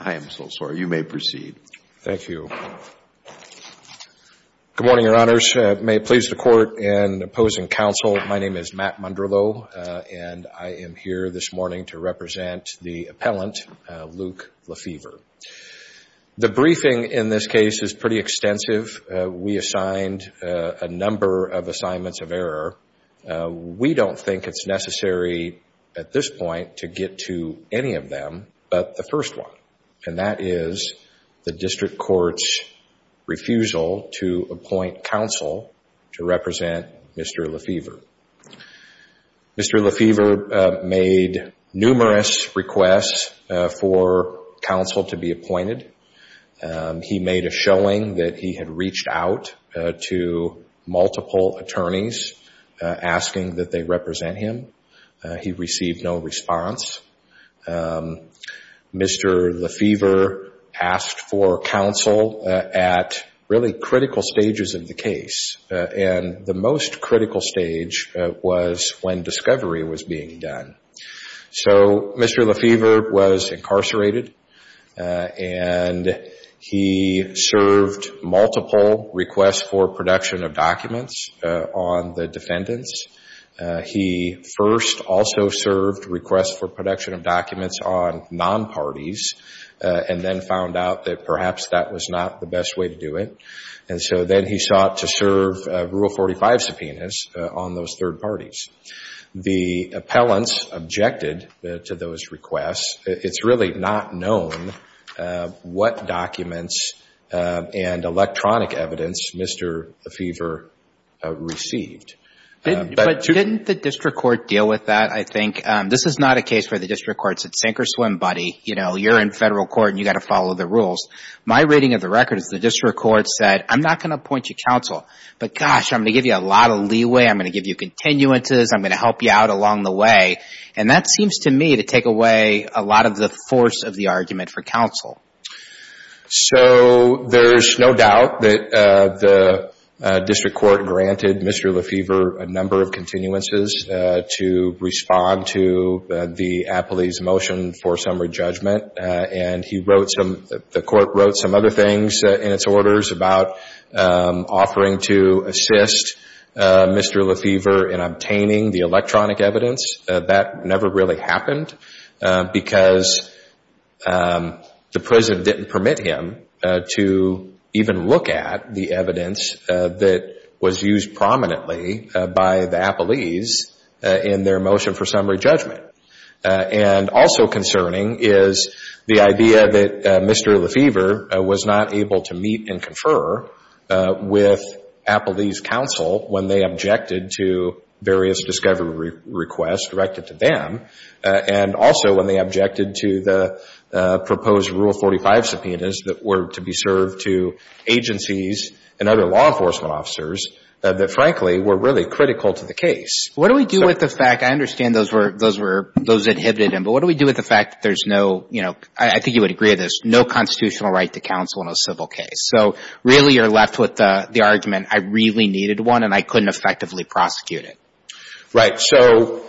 I am so sorry. You may proceed. Thank you. Good morning, your honors. May it please the court in opposing counsel. My name is Matt Munderloh and I am here this morning to represent the appellant, Luke LeFever. The briefing in this case is pretty extensive. We assigned a number of assignments of error. We don't think it's necessary at this point to get to any of them, but the first one, and that is the district court's refusal to appoint counsel to represent Mr. LeFever. Mr. LeFever made numerous requests for counsel to be appointed. He made a showing that he had reached out to multiple attorneys. Asking that they represent him. He received no response. Mr. LeFever asked for counsel at really critical stages of the case. And the most critical stage was when discovery was being done. So Mr. LeFever was incarcerated and he served multiple requests for production of defendants, he first also served requests for production of documents on non-parties and then found out that perhaps that was not the best way to do it. And so then he sought to serve a rule 45 subpoenas on those third parties. The appellants objected to those requests. It's really not known what documents and electronic evidence Mr. LeFever received. But didn't the district court deal with that? I think this is not a case where the district court said sink or swim, buddy. You know, you're in federal court and you got to follow the rules. My reading of the record is the district court said, I'm not going to appoint you counsel, but gosh, I'm going to give you a lot of leeway. I'm going to give you continuances. I'm going to help you out along the way. And that seems to me to take away a lot of the force of the argument for counsel. So there's no doubt that the district court granted Mr. LeFever a number of continuances to respond to the appellee's motion for summary judgment, and he wrote some, the court wrote some other things in its orders about offering to assist Mr. LeFever in obtaining the electronic evidence. That never really happened because the president didn't permit him to even look at the evidence that was used prominently by the appellees in their motion for summary judgment. And also concerning is the idea that Mr. LeFever was not able to meet and confer with appellees counsel when they objected to various discovery requests directed to them, and also when they objected to the proposed Rule 45 subpoenas that were to be served to agencies and other law enforcement officers that frankly were really critical to the case. What do we do with the fact, I understand those were, those were, those inhibited him, but what do we do with the fact that there's no, you know, I think you would agree with this, no constitutional right to counsel in a civil case. So really you're left with the argument, I really needed one and I couldn't effectively prosecute it. Right. So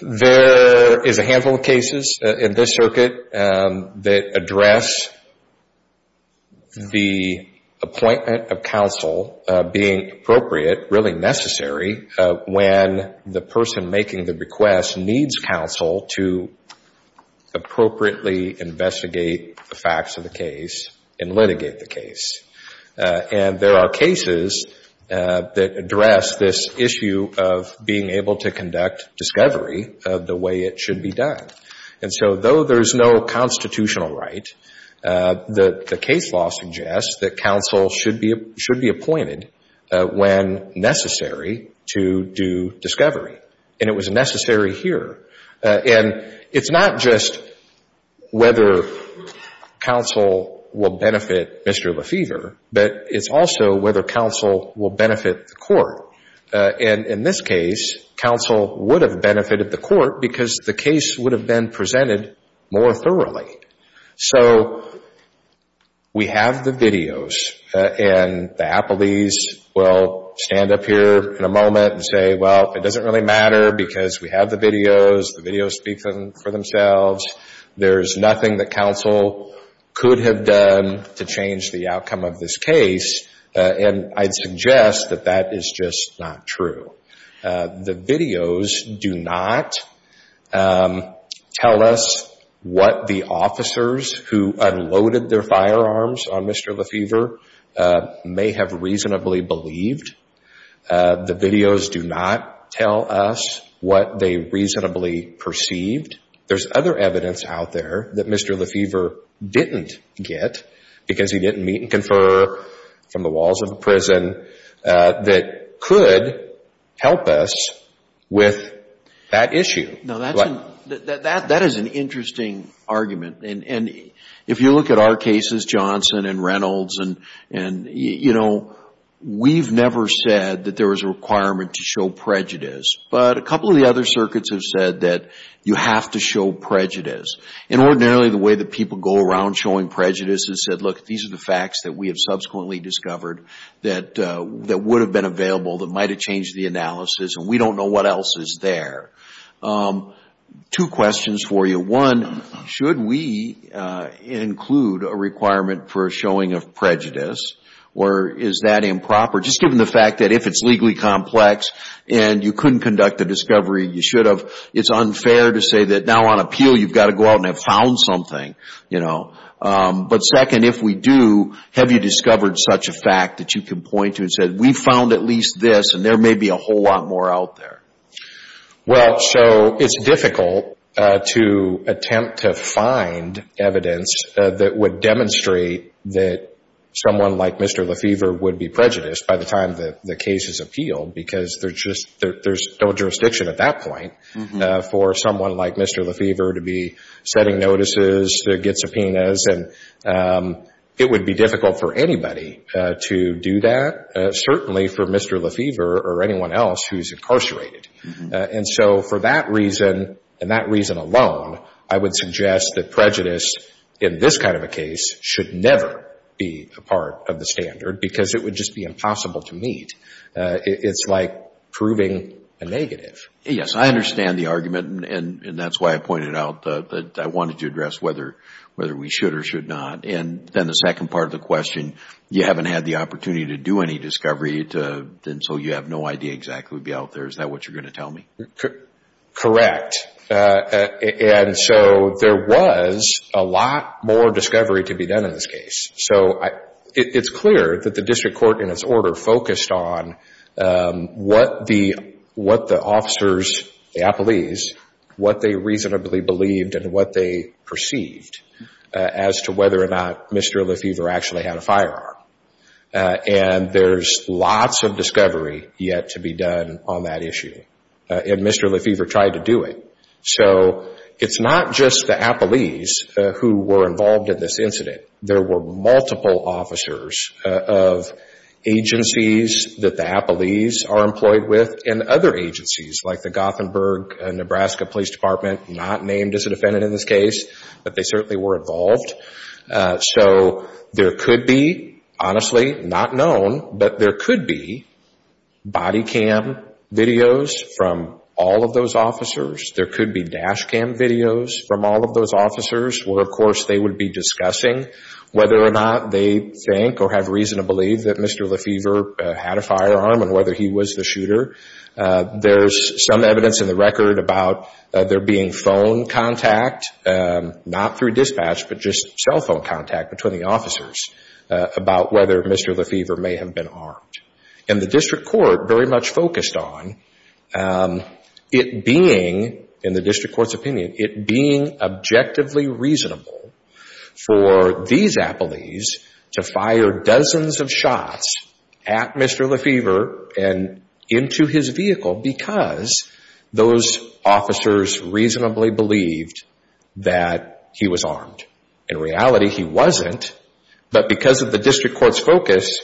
there is a handful of cases in this circuit that address the appointment of counsel being appropriate, really necessary when the person making the request needs counsel to appropriately investigate the facts of the case and litigate the issue of being able to conduct discovery the way it should be done. And so though there's no constitutional right, the case law suggests that counsel should be appointed when necessary to do discovery. And it was necessary here. And it's not just whether counsel will benefit Mr. And in this case, counsel would have benefited the court because the case would have been presented more thoroughly. So we have the videos and the appellees will stand up here in a moment and say, well, it doesn't really matter because we have the videos, the videos speak for themselves. There's nothing that counsel could have done to change the outcome of this case. And I'd suggest that that is just not true. The videos do not tell us what the officers who unloaded their firearms on Mr. Lefevre may have reasonably believed. The videos do not tell us what they reasonably perceived. There's other evidence out there that Mr. Lefevre didn't get because he didn't meet and confer from the walls of the prison that could help us with that issue. Now, that is an interesting argument. And if you look at our cases, Johnson and Reynolds, and, you know, we've never said that there was a requirement to show prejudice. But a couple of the other circuits have said that you have to show prejudice. And ordinarily, the way that people go around showing prejudice is said, look, these are the facts that we have subsequently discovered that would have been available that might have changed the analysis and we don't know what else is there. Two questions for you. One, should we include a requirement for showing of prejudice or is that improper? Just given the fact that if it's legally complex and you couldn't conduct a discovery, you should have, it's unfair to say that now on appeal, you've got to go out and have found something, you know, but second, if we do, have you discovered such a fact that you can point to and said, we found at least this and there may be a whole lot more out there. Well, so it's difficult to attempt to find evidence that would demonstrate that someone like Mr. Lefevre would be prejudiced by the time that the case is appealed, because there's just, there's no jurisdiction at that point for someone like Mr. Lefevre to be setting notices, to get subpoenas, and it would be difficult for anybody to do that, certainly for Mr. Lefevre or anyone else who's incarcerated. And so for that reason and that reason alone, I would suggest that prejudice in this kind of a case should never be a part of the standard because it would just be impossible to meet. It's like proving a negative. Yes, I understand the argument and that's why I pointed out that I wanted to address whether we should or should not. And then the second part of the question, you haven't had the opportunity to do any discovery, and so you have no idea exactly what would be out there. Is that what you're going to tell me? Correct, and so there was a lot more discovery to be done in this case. So it's clear that the district court in its order focused on what the officers, the appellees, what they reasonably believed and what they perceived as to whether or not Mr. Lefevre actually had a firearm. And there's lots of discovery yet to be done on that issue, and Mr. Lefevre tried to do it. So it's not just the appellees who were involved in this incident. There were multiple officers of agencies that the appellees are employed with and other agencies like the Gothenburg and Nebraska Police Department, not named as a defendant in this case, but they certainly were involved. So there could be, honestly not known, but there could be body cam videos from all of those officers. There could be dash cam videos from all of those officers where of course they would be discussing whether or not they think or have reason to believe that Mr. Lefevre had a firearm and whether he was the shooter. There's some evidence in the record about there being phone contact, not through dispatch, but just cell phone contact between the officers about whether Mr. Lefevre may have been armed. And the district court very much focused on it being, in the district court's view, reasonable for these appellees to fire dozens of shots at Mr. Lefevre and into his vehicle because those officers reasonably believed that he was armed. In reality, he wasn't, but because of the district court's focus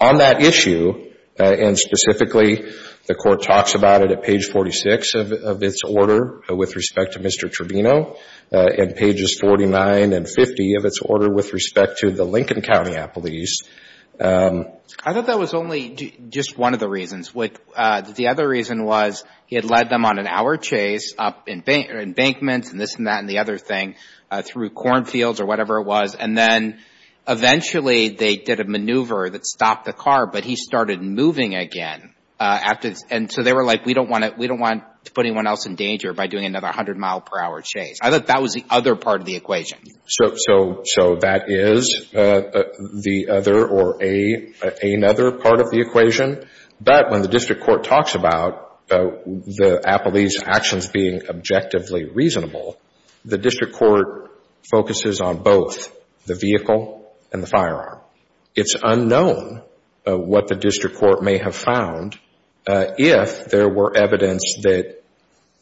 on that issue, and specifically the court talks about it at page 46 of its order with respect to Mr. Lefevre, page 49 and 50 of its order with respect to the Lincoln County appellees. I thought that was only just one of the reasons. The other reason was he had led them on an hour chase up in Embankment and this and that and the other thing through cornfields or whatever it was, and then eventually they did a maneuver that stopped the car, but he started moving again. And so they were like, we don't want to put anyone else in danger by doing another 100 mile per hour chase. I thought that was the other part of the equation. So that is the other or another part of the equation. But when the district court talks about the appellees' actions being objectively reasonable, the district court focuses on both the vehicle and the firearm. It's unknown what the district court may have found if there were evidence that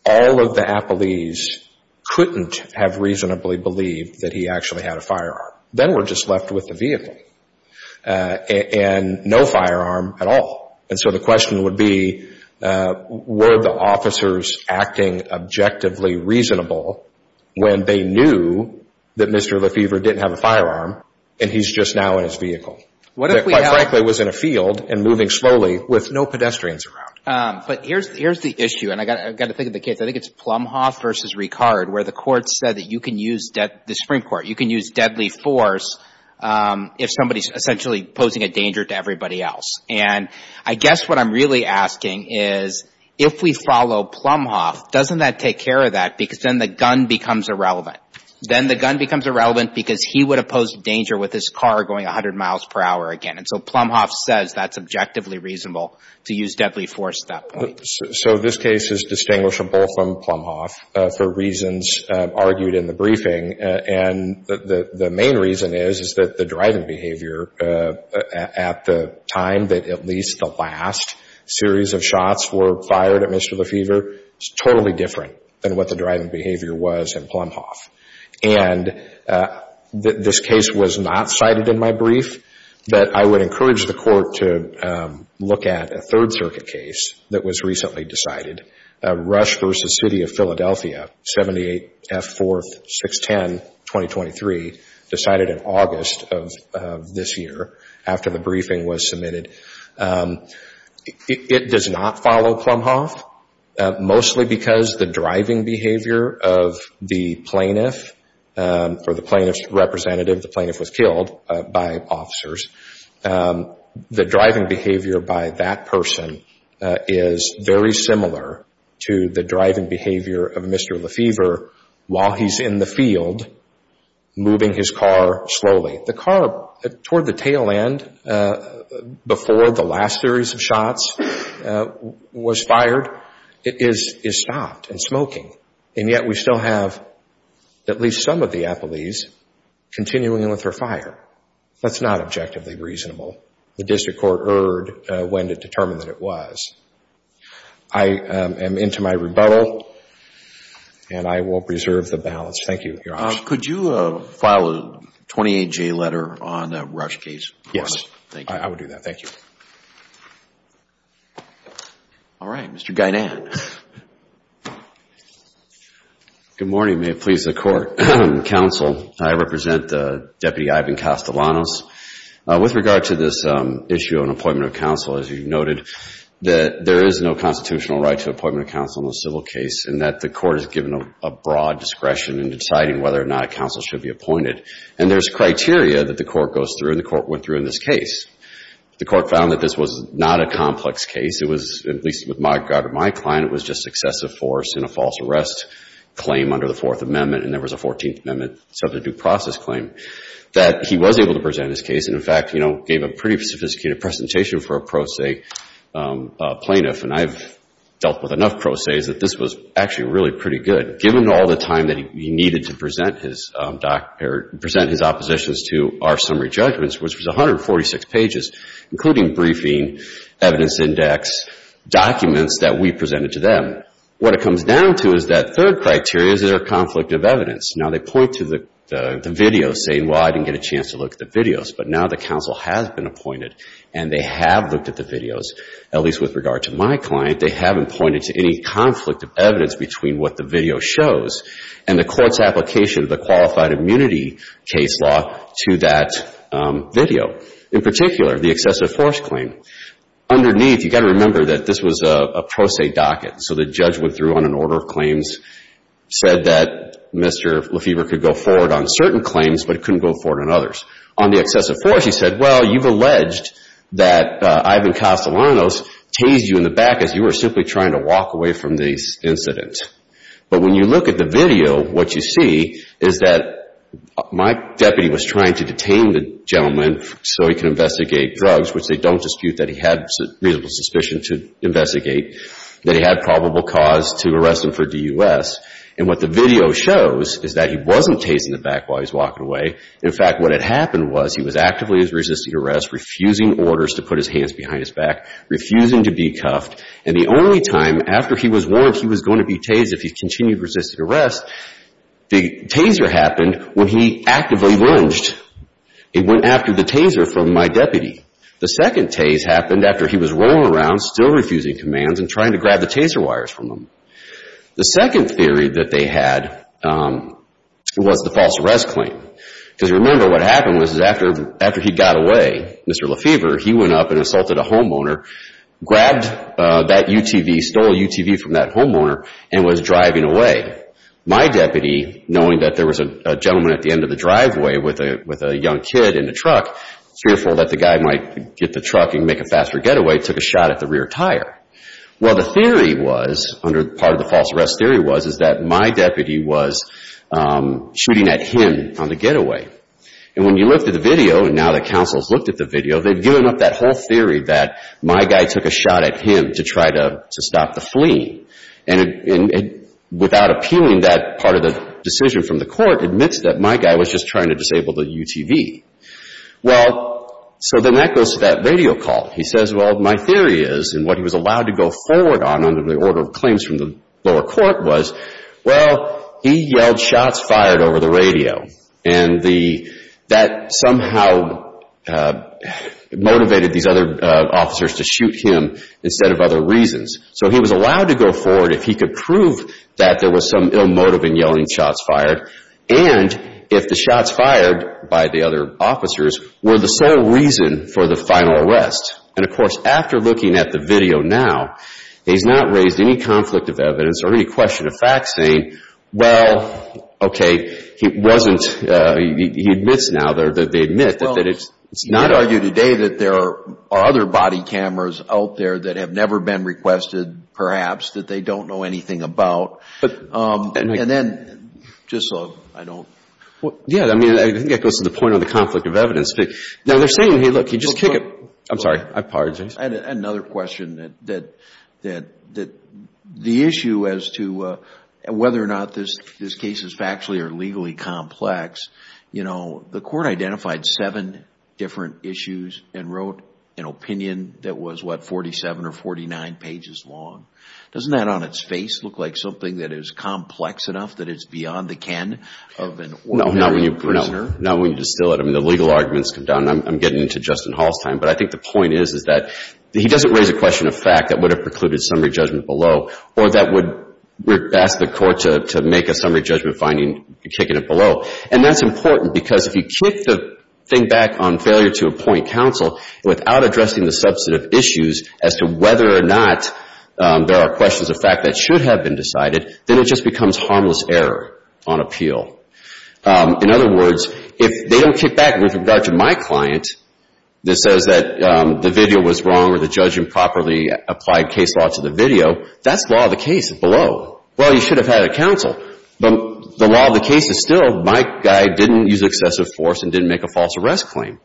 all of the appellees couldn't have reasonably believed that he actually had a firearm, then we're just left with the vehicle and no firearm at all. And so the question would be, were the officers acting objectively reasonable when they knew that Mr. Lefevre didn't have a firearm and he's just now in his vehicle? Quite frankly, he was in a field and moving slowly with no pedestrians around. But here's the issue. And I've got to think of the case. I think it's Plumhoff versus Ricard, where the court said that you can use the Supreme Court, you can use deadly force if somebody is essentially posing a danger to everybody else. And I guess what I'm really asking is, if we follow Plumhoff, doesn't that take care of that? Because then the gun becomes irrelevant. Then the gun becomes irrelevant because he would have posed danger with his car going 100 miles per hour again. And so Plumhoff says that's objectively reasonable to use deadly force at that point. So this case is distinguishable from Plumhoff for reasons argued in the briefing. And the main reason is, is that the driving behavior at the time that at least the last series of shots were fired at Mr. Lefevre is totally different than what the driving behavior was in Plumhoff. And this case was not cited in my brief, but I would encourage the court to look at a third-circuit case that was recently decided, Rush versus City of Philadelphia, 78 F. 4th, 6-10, 2023, decided in August of this year after the briefing was submitted. It does not follow Plumhoff, mostly because the driving behavior of the plaintiff or the plaintiff's representative, the plaintiff was killed by officers, the driving behavior by that person is very similar to the driving behavior of Mr. Lefevre while he's in the field moving his car slowly. The car toward the tail end before the last series of shots was fired is stopped and smoking, and yet we still have at least some of the appellees continuing with her fire. That's not objectively reasonable. The district court erred when it determined that it was. I am into my rebuttal and I will preserve the balance. Thank you. Could you file a 28-J letter on the Rush case? Yes, I would do that. Thank you. All right. Mr. Guinan. Good morning. May it please the court, counsel. I represent Deputy Ivan Castellanos. With regard to this issue on appointment of counsel, as you noted, that there is no constitutional right to appointment of counsel in a civil case, and that the court is given a broad discretion in deciding whether or not a counsel should be appointed. And there's criteria that the court goes through and the court went through in this case. The court found that this was not a complex case. It was, at least with my regard to my client, it was just excessive force in a false arrest claim under the Fourth Amendment, and there was a Fourteenth Amendment. So the due process claim that he was able to present his case. And in fact, you know, gave a pretty sophisticated presentation for a pro se plaintiff. And I've dealt with enough pro ses that this was actually really pretty good. Given all the time that he needed to present his opposition to our summary judgments, which was 146 pages, including briefing, evidence index, documents that we presented to them. What it comes down to is that third criteria is their conflict of evidence. Now, they point to the video saying, well, I didn't get a chance to look at the videos. But now the counsel has been appointed and they have looked at the videos, at least with regard to my client. They haven't pointed to any conflict of evidence between what the video shows and the court's application of the qualified immunity case law to that video. In particular, the excessive force claim. Underneath, you've got to remember that this was a pro se docket. So the judge went through on an order of claims, said that Mr. Lefebvre could go forward on certain claims, but he couldn't go forward on others. On the excessive force, he said, well, you've alleged that Ivan Castellanos tased you in the back as you were simply trying to walk away from this incident. But when you look at the video, what you see is that my deputy was trying to detain the gentleman so he can investigate drugs, which they don't dispute that he had reasonable suspicion to investigate, that he had probable cause to arrest him for DUS. And what the video shows is that he wasn't tased in the back while he was walking away. In fact, what had happened was he was actively resisting arrest, refusing orders to put his hands behind his back, refusing to be cuffed. And the only time after he was warned he was going to be tased if he continued resisted arrest, the taser happened when he actively lunged. It went after the taser from my deputy. The second tase happened after he was rolling around, still refusing commands and trying to grab the taser wires from him. The second theory that they had was the false arrest claim. Because remember what happened was after he got away, Mr. Lefevre, he went up and assaulted a homeowner, grabbed that UTV, stole a UTV from that homeowner and was driving away. My deputy, knowing that there was a gentleman at the end of the driveway with a young kid in a truck, fearful that the guy might get the truck and make a faster getaway, took a shot at the rear tire. Well, the theory was, under part of the false arrest theory was, is that my deputy was shooting at him on the getaway. And when you looked at the video, and now the counsel's looked at the video, they'd given up that whole theory that my guy took a shot at him to try to stop the fleeing. And without appealing that part of the decision from the court, admits that my guy was just trying to disable the UTV. Well, so then that goes to that radio call. He says, well, my theory is, and what he was allowed to go forward on under the order of claims from the lower court was, well, he yelled shots fired over the radio. And that somehow motivated these other officers to shoot him instead of other reasons. So he was allowed to go forward if he could prove that there was some ill motive in yelling shots fired. And if the shots fired by the other officers were the sole reason for the final arrest. And of course, after looking at the video now, he's not raised any conflict of evidence or any question of fact saying, well, okay, he admits now that they admit that it's not... You could argue today that there are other body cameras out there that have never been requested, perhaps, that they don't know anything about. And then, just so I don't... Yeah, I mean, I think that goes to the point on the conflict of evidence. Now, they're saying, hey, look, you just kick it... I'm sorry. I apologize. I had another question that the issue as to whether or not this case is factually or legally complex, you know, the court identified seven different issues and wrote an opinion that was, what, 47 or 49 pages long. Doesn't that, on its face, look like something that is complex enough that it's beyond the can of an ordinary prisoner? No, not when you distill it. I mean, the legal arguments come down, and I'm getting into Justin Hall's time. But I think the point is, is that he doesn't raise a question of fact that would have precluded summary judgment below, or that would ask the court to make a summary judgment finding, kicking it below. And that's important because if you kick the thing back on failure to appoint counsel without addressing the substantive issues as to whether or not there are questions of fact that should have been decided, then it just becomes harmless error on appeal. In other words, if they don't kick back with regard to my client that says that the video was wrong or the judge improperly applied case law to the video, that's law of the case below. Well, you should have had a counsel. But the law of the case is still, my guy didn't use excessive force and didn't make a false arrest claim.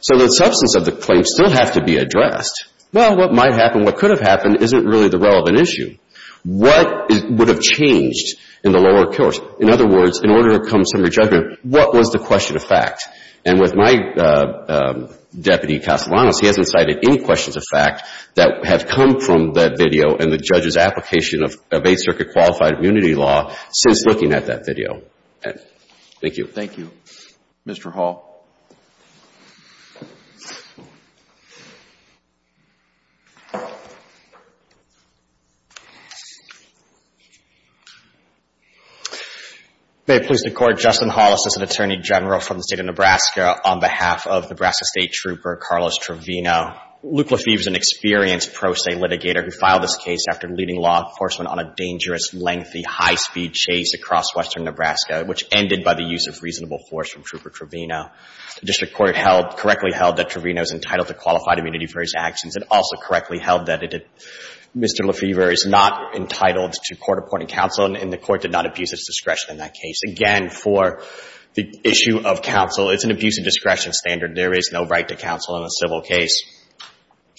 So the substance of the claim still has to be addressed. Well, what might happen, what could have happened isn't really the relevant issue. What would have changed in the lower court? In other words, in order to come to a summary judgment, what was the question of fact? And with my Deputy Castellanos, he hasn't cited any questions of fact that have come from that video and the judge's application of Eighth Circuit qualified immunity law since looking at that video. Thank you. Thank you. Mr. Hall. May it please the court, Justin Hollis is an attorney general from the state of Nebraska on behalf of Nebraska State Trooper Carlos Trevino. Luke Lefevre is an experienced pro se litigator who filed this case after leading law enforcement on a dangerous, lengthy, high-speed chase across western Nebraska, which ended by the use of reasonable force from Trooper Trevino. The district court held, correctly held that Trevino is entitled to qualified immunity for his actions. It also correctly held that Mr. Lefevre is not entitled to court-appointed counsel, and the court did not abuse its discretion in that case. Again, for the issue of counsel, it's an abuse of discretion standard. There is no right to counsel in a civil case.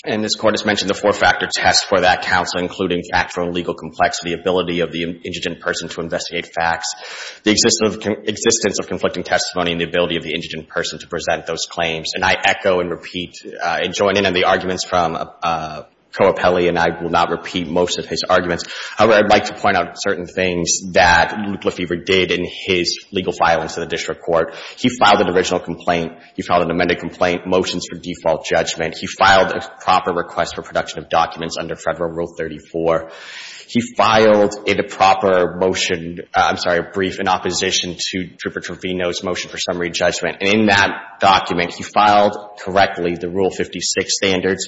And this Court has mentioned the four-factor test for that counsel, including factual and legal complexity, ability of the indigent person to investigate facts, the existence of conflicting testimony, and the ability of the indigent person to present those claims. And I echo and repeat and join in on the arguments from Koa Peli, and I will not repeat most of his arguments. However, I'd like to point out certain things that Luke Lefevre did in his legal filings to the district court. He filed an original complaint. He filed an amended complaint, motions for default judgment. He filed a proper request for production of documents under Federal Rule 34. He filed a proper motion, I'm sorry, a brief in opposition to Trooper Trevino's motion for summary judgment. And in that document, he filed correctly the Rule 56 standards.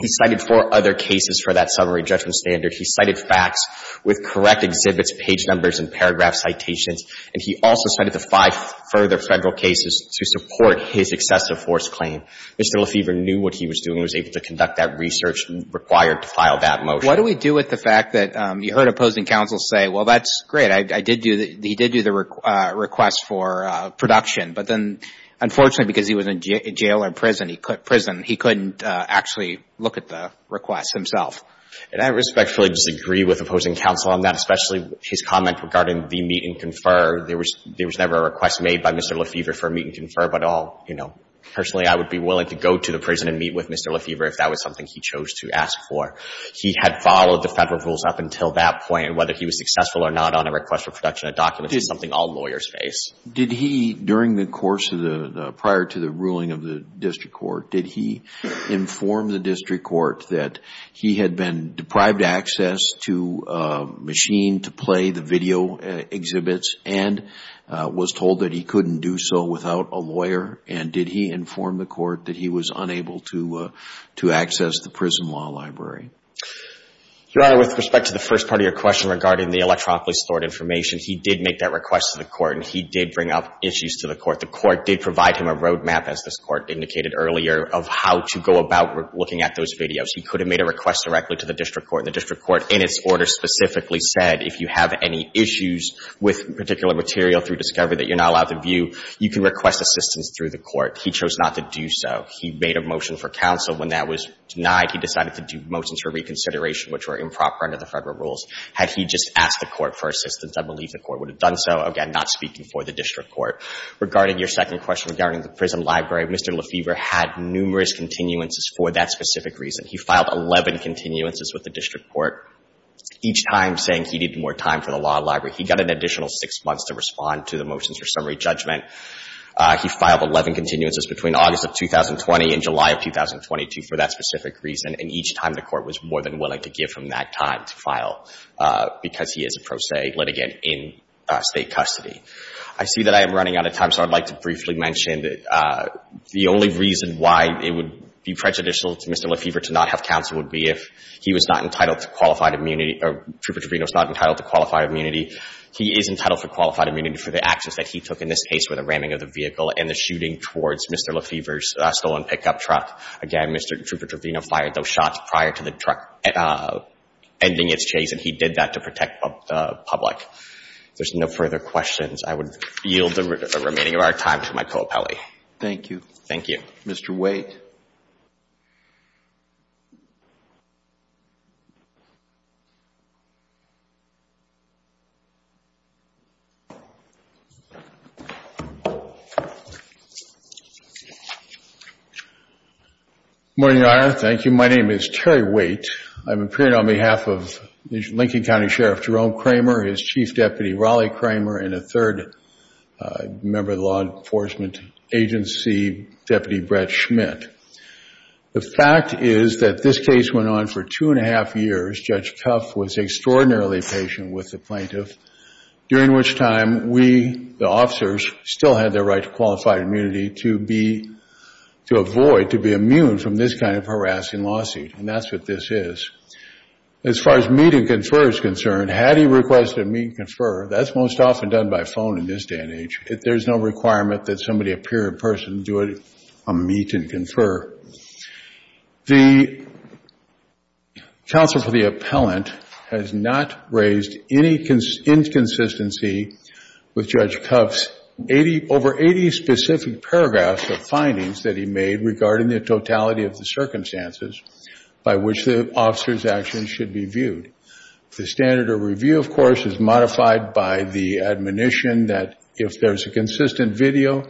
He cited four other cases for that summary judgment standard. He cited facts with correct exhibits, page numbers, and paragraph citations. And he also cited the five further Federal cases to support his excessive force claim. Mr. Lefevre knew what he was doing and was able to conduct that research required to file that motion. What do we do with the fact that you heard opposing counsel say, well, that's great. I did do the — he did do the request for production. But then, unfortunately, because he was in jail or prison, he couldn't actually look at the request himself. And I respectfully disagree with opposing counsel on that, especially his comment regarding the meet and confer. There was never a request made by Mr. Lefevre for a meet and confer, but all, you know, personally, I would be willing to go to the prison and meet with Mr. Lefevre if that was something he chose to ask for. He had followed the Federal rules up until that point, and whether he was successful or not on a request for production of documents is something all lawyers face. Did he, during the course of the — prior to the ruling of the district court, did he inform the district court that he had been deprived access to a machine to play the video exhibits and was told that he couldn't do so without a lawyer? And did he inform the court that he was unable to access the prison law library? Your Honor, with respect to the first part of your question regarding the electronically stored information, he did make that request to the court, and he did bring up issues to the court. The court did provide him a roadmap, as this court indicated earlier, of how to go about looking at those videos. He could have made a request directly to the district court, and the district court, in its order, specifically said, if you have any issues with particular material through discovery that you're not allowed to view, you can request assistance through the court. He chose not to do so. He made a motion for counsel. When that was denied, he decided to do motions for reconsideration, which were improper under the Federal rules. Had he just asked the court for assistance, I believe the court would have done so. Again, not speaking for the district court. Regarding your second question regarding the prison library, Mr. Lefebvre had numerous continuances for that specific reason. He filed 11 continuances with the district court, each time saying he needed more time for the law library. He got an additional six months to respond to the motions for summary judgment. He filed 11 continuances between August of 2020 and July of 2022 for that specific reason, and each time the court was more than willing to give him that time to file. Because he is a pro se litigant in state custody. I see that I am running out of time, so I'd like to briefly mention that the only reason why it would be prejudicial to Mr. Lefebvre to not have counsel would be if he was not entitled to qualified immunity, or Trooper Trevino's not entitled to qualified immunity. He is entitled for qualified immunity for the actions that he took in this case, where the ramming of the vehicle and the shooting towards Mr. Lefebvre's stolen pickup truck. Again, Mr. Trooper Trevino fired those shots prior to the truck ending its chase, and he did that to protect the public. If there's no further questions, I would yield the remaining of our time to my co-appellee. Thank you. Thank you. Mr. Waite. Good morning, Your Honor. Thank you. My name is Terry Waite. I'm appearing on behalf of Lincoln County Sheriff Jerome Kramer, his Chief Deputy Raleigh Kramer, and a third member of the Law Enforcement Agency, Deputy Brett Schmidt. The fact is that this case went on for two and a half years. Judge Kuff was extraordinarily patient with the plaintiff, during which time we, the officers, still had the right to qualified immunity to be, to avoid, to be immune from this kind of harassing lawsuit. And that's what this is. As far as meet and confer is concerned, had he requested a meet and confer, that's most often done by phone in this day and age. If there's no requirement that somebody appear in person, do a meet and confer. The counsel for the appellant has not raised any inconsistency with Judge Kuff's over 80 specific paragraphs of findings that he made regarding the totality of the circumstances. By which the officer's actions should be viewed. The standard of review, of course, is modified by the admonition that if there's a consistent video,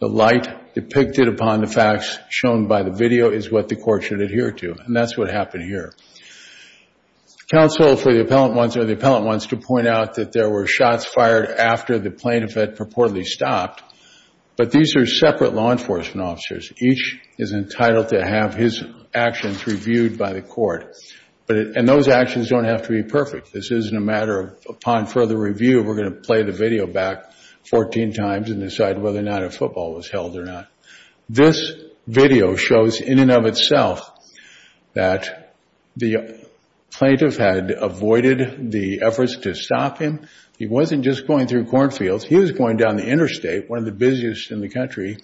the light depicted upon the facts shown by the video is what the court should adhere to. And that's what happened here. Counsel for the appellant wants, or the appellant wants to point out that there were shots fired after the plaintiff had purportedly stopped. But these are separate law enforcement officers. Each is entitled to have his actions reviewed by the court. But, and those actions don't have to be perfect. This isn't a matter of, upon further review, we're going to play the video back 14 times and decide whether or not a football was held or not. This video shows in and of itself that the plaintiff had avoided the efforts to stop him. He wasn't just going through cornfields. He was going down the interstate, one of the busiest in the country.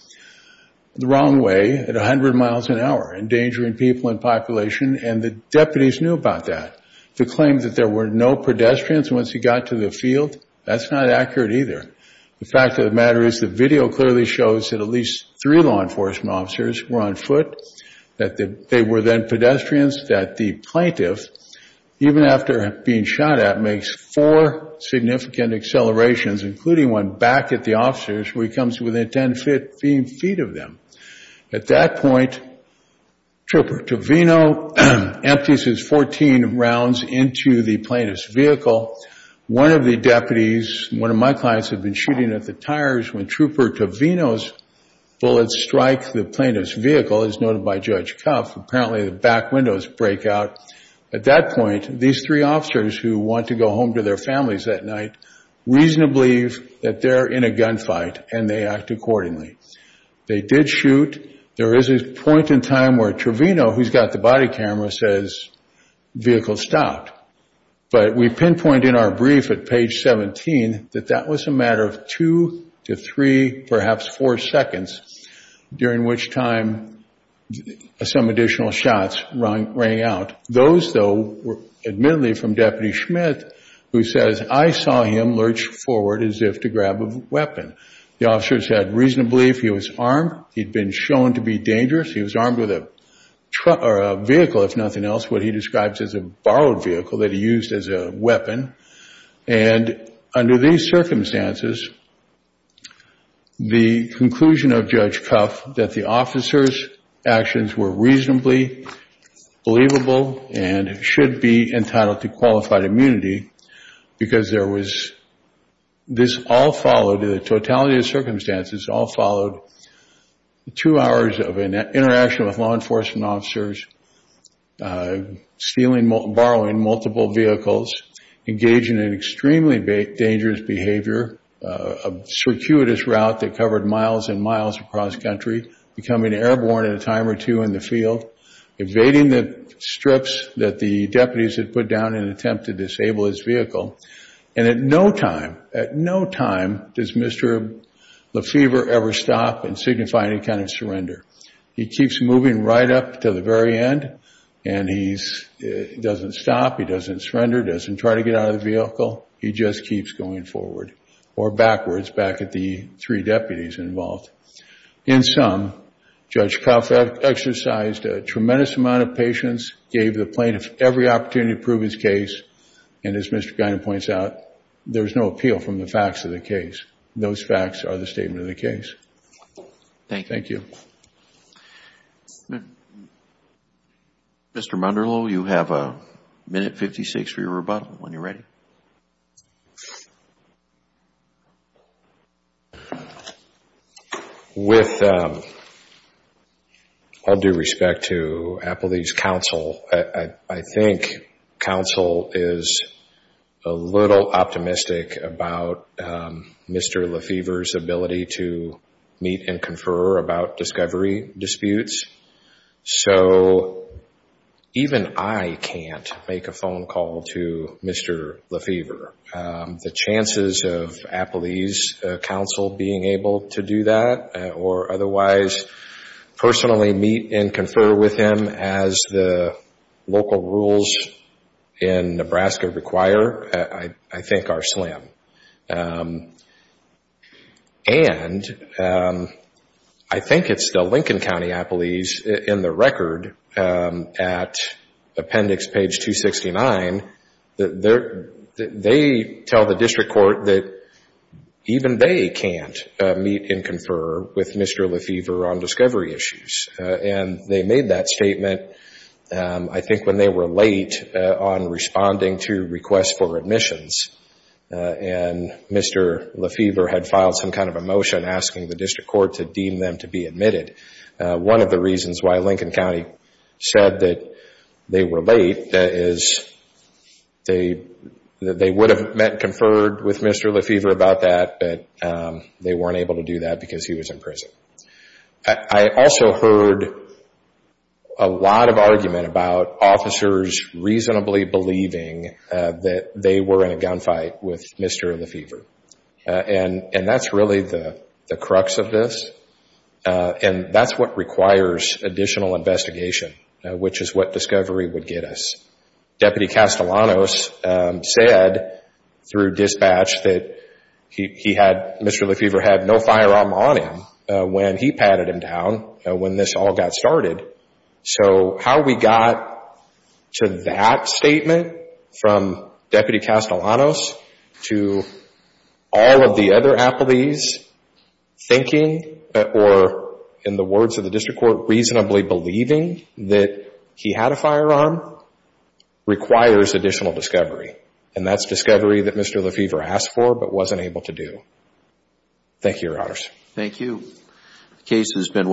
The wrong way at a hundred miles an hour, endangering people and population, and the deputies knew about that. The claim that there were no pedestrians once he got to the field, that's not accurate either. The fact of the matter is the video clearly shows that at least three law enforcement officers were on foot, that they were then pedestrians, that the plaintiff, even after being shot at, makes four significant accelerations, including one back at the officers, where he comes within 10 feet of them. At that point, Trooper Tovino empties his 14 rounds into the plaintiff's vehicle. One of the deputies, one of my clients, had been shooting at the tires when Trooper Tovino's bullets strike the plaintiff's vehicle, as noted by Judge Cuff. Apparently the back windows break out. At that point, these three officers who want to go home to their families that night, reasonably believe that they're in a gunfight and they act accordingly. They did shoot. There is a point in time where Trovino, who's got the body camera, says, vehicle stopped, but we pinpoint in our brief at page 17, that that was a matter of two to three, perhaps four seconds, during which time some additional shots rang out. Those, though, were admittedly from Deputy Schmidt, who says, I saw him lurch forward as if to grab a weapon. The officer said, reasonably, if he was armed, he'd been shown to be dangerous. He was armed with a vehicle, if nothing else, what he describes as a borrowed vehicle that he used as a weapon. And under these circumstances, the conclusion of Judge Cuff, that the should be entitled to qualified immunity because this all followed, the totality of circumstances all followed, two hours of an interaction with law enforcement officers, stealing, borrowing multiple vehicles, engaging in extremely dangerous behavior, a circuitous route that covered miles and miles across country, becoming airborne at a time or two in the field, evading the strips that the deputies had put down in an attempt to disable his vehicle. And at no time, at no time does Mr. Lefevre ever stop and signify any kind of surrender. He keeps moving right up to the very end and he doesn't stop. He doesn't surrender, doesn't try to get out of the vehicle. He just keeps going forward or backwards, back at the three deputies involved. In sum, Judge Cuff exercised a tremendous amount of patience, gave the plaintiff every opportunity to prove his case. And as Mr. Guinan points out, there's no appeal from the facts of the case. Those facts are the statement of the case. Thank you. Mr. Munderloh, you have a minute fifty-six for your rebuttal when you're ready. With all due respect to Appley's counsel, I think counsel is a little optimistic about Mr. Lefevre's ability to meet and confer about discovery disputes. So even I can't make a phone call to Mr. Lefevre. The chances of Appley's counsel being able to do that or otherwise personally meet and confer with him as the local rules in Nebraska require, I think are slim. And I think it's the Lincoln County Appley's in the record at appendix page 269, they tell the district court that even they can't meet and confer with Mr. Lefevre on discovery issues. And they made that statement, I think when they were late on responding to requests for admissions and Mr. Lefevre had filed some kind of a motion asking the district court to deem them to be admitted. One of the reasons why Lincoln County said that they were late is they would have met and conferred with Mr. Lefevre about that, but they weren't able to do that because he was in prison. I also heard a lot of argument about officers reasonably believing that they were in a gun fight with Mr. Lefevre. And that's really the crux of this. And that's what requires additional investigation, which is what discovery would get us. Deputy Castellanos said through dispatch that Mr. Lefevre had no firearm on him when he patted him down, when this all got started. So how we got to that statement from Deputy Castellanos to all of the other Appley's thinking, or in the words of the district court, reasonably believing that he had a firearm requires additional discovery. And that's discovery that Mr. Lefevre asked for, but wasn't able to do. Thank you, Your Honors. Thank you. The case has been.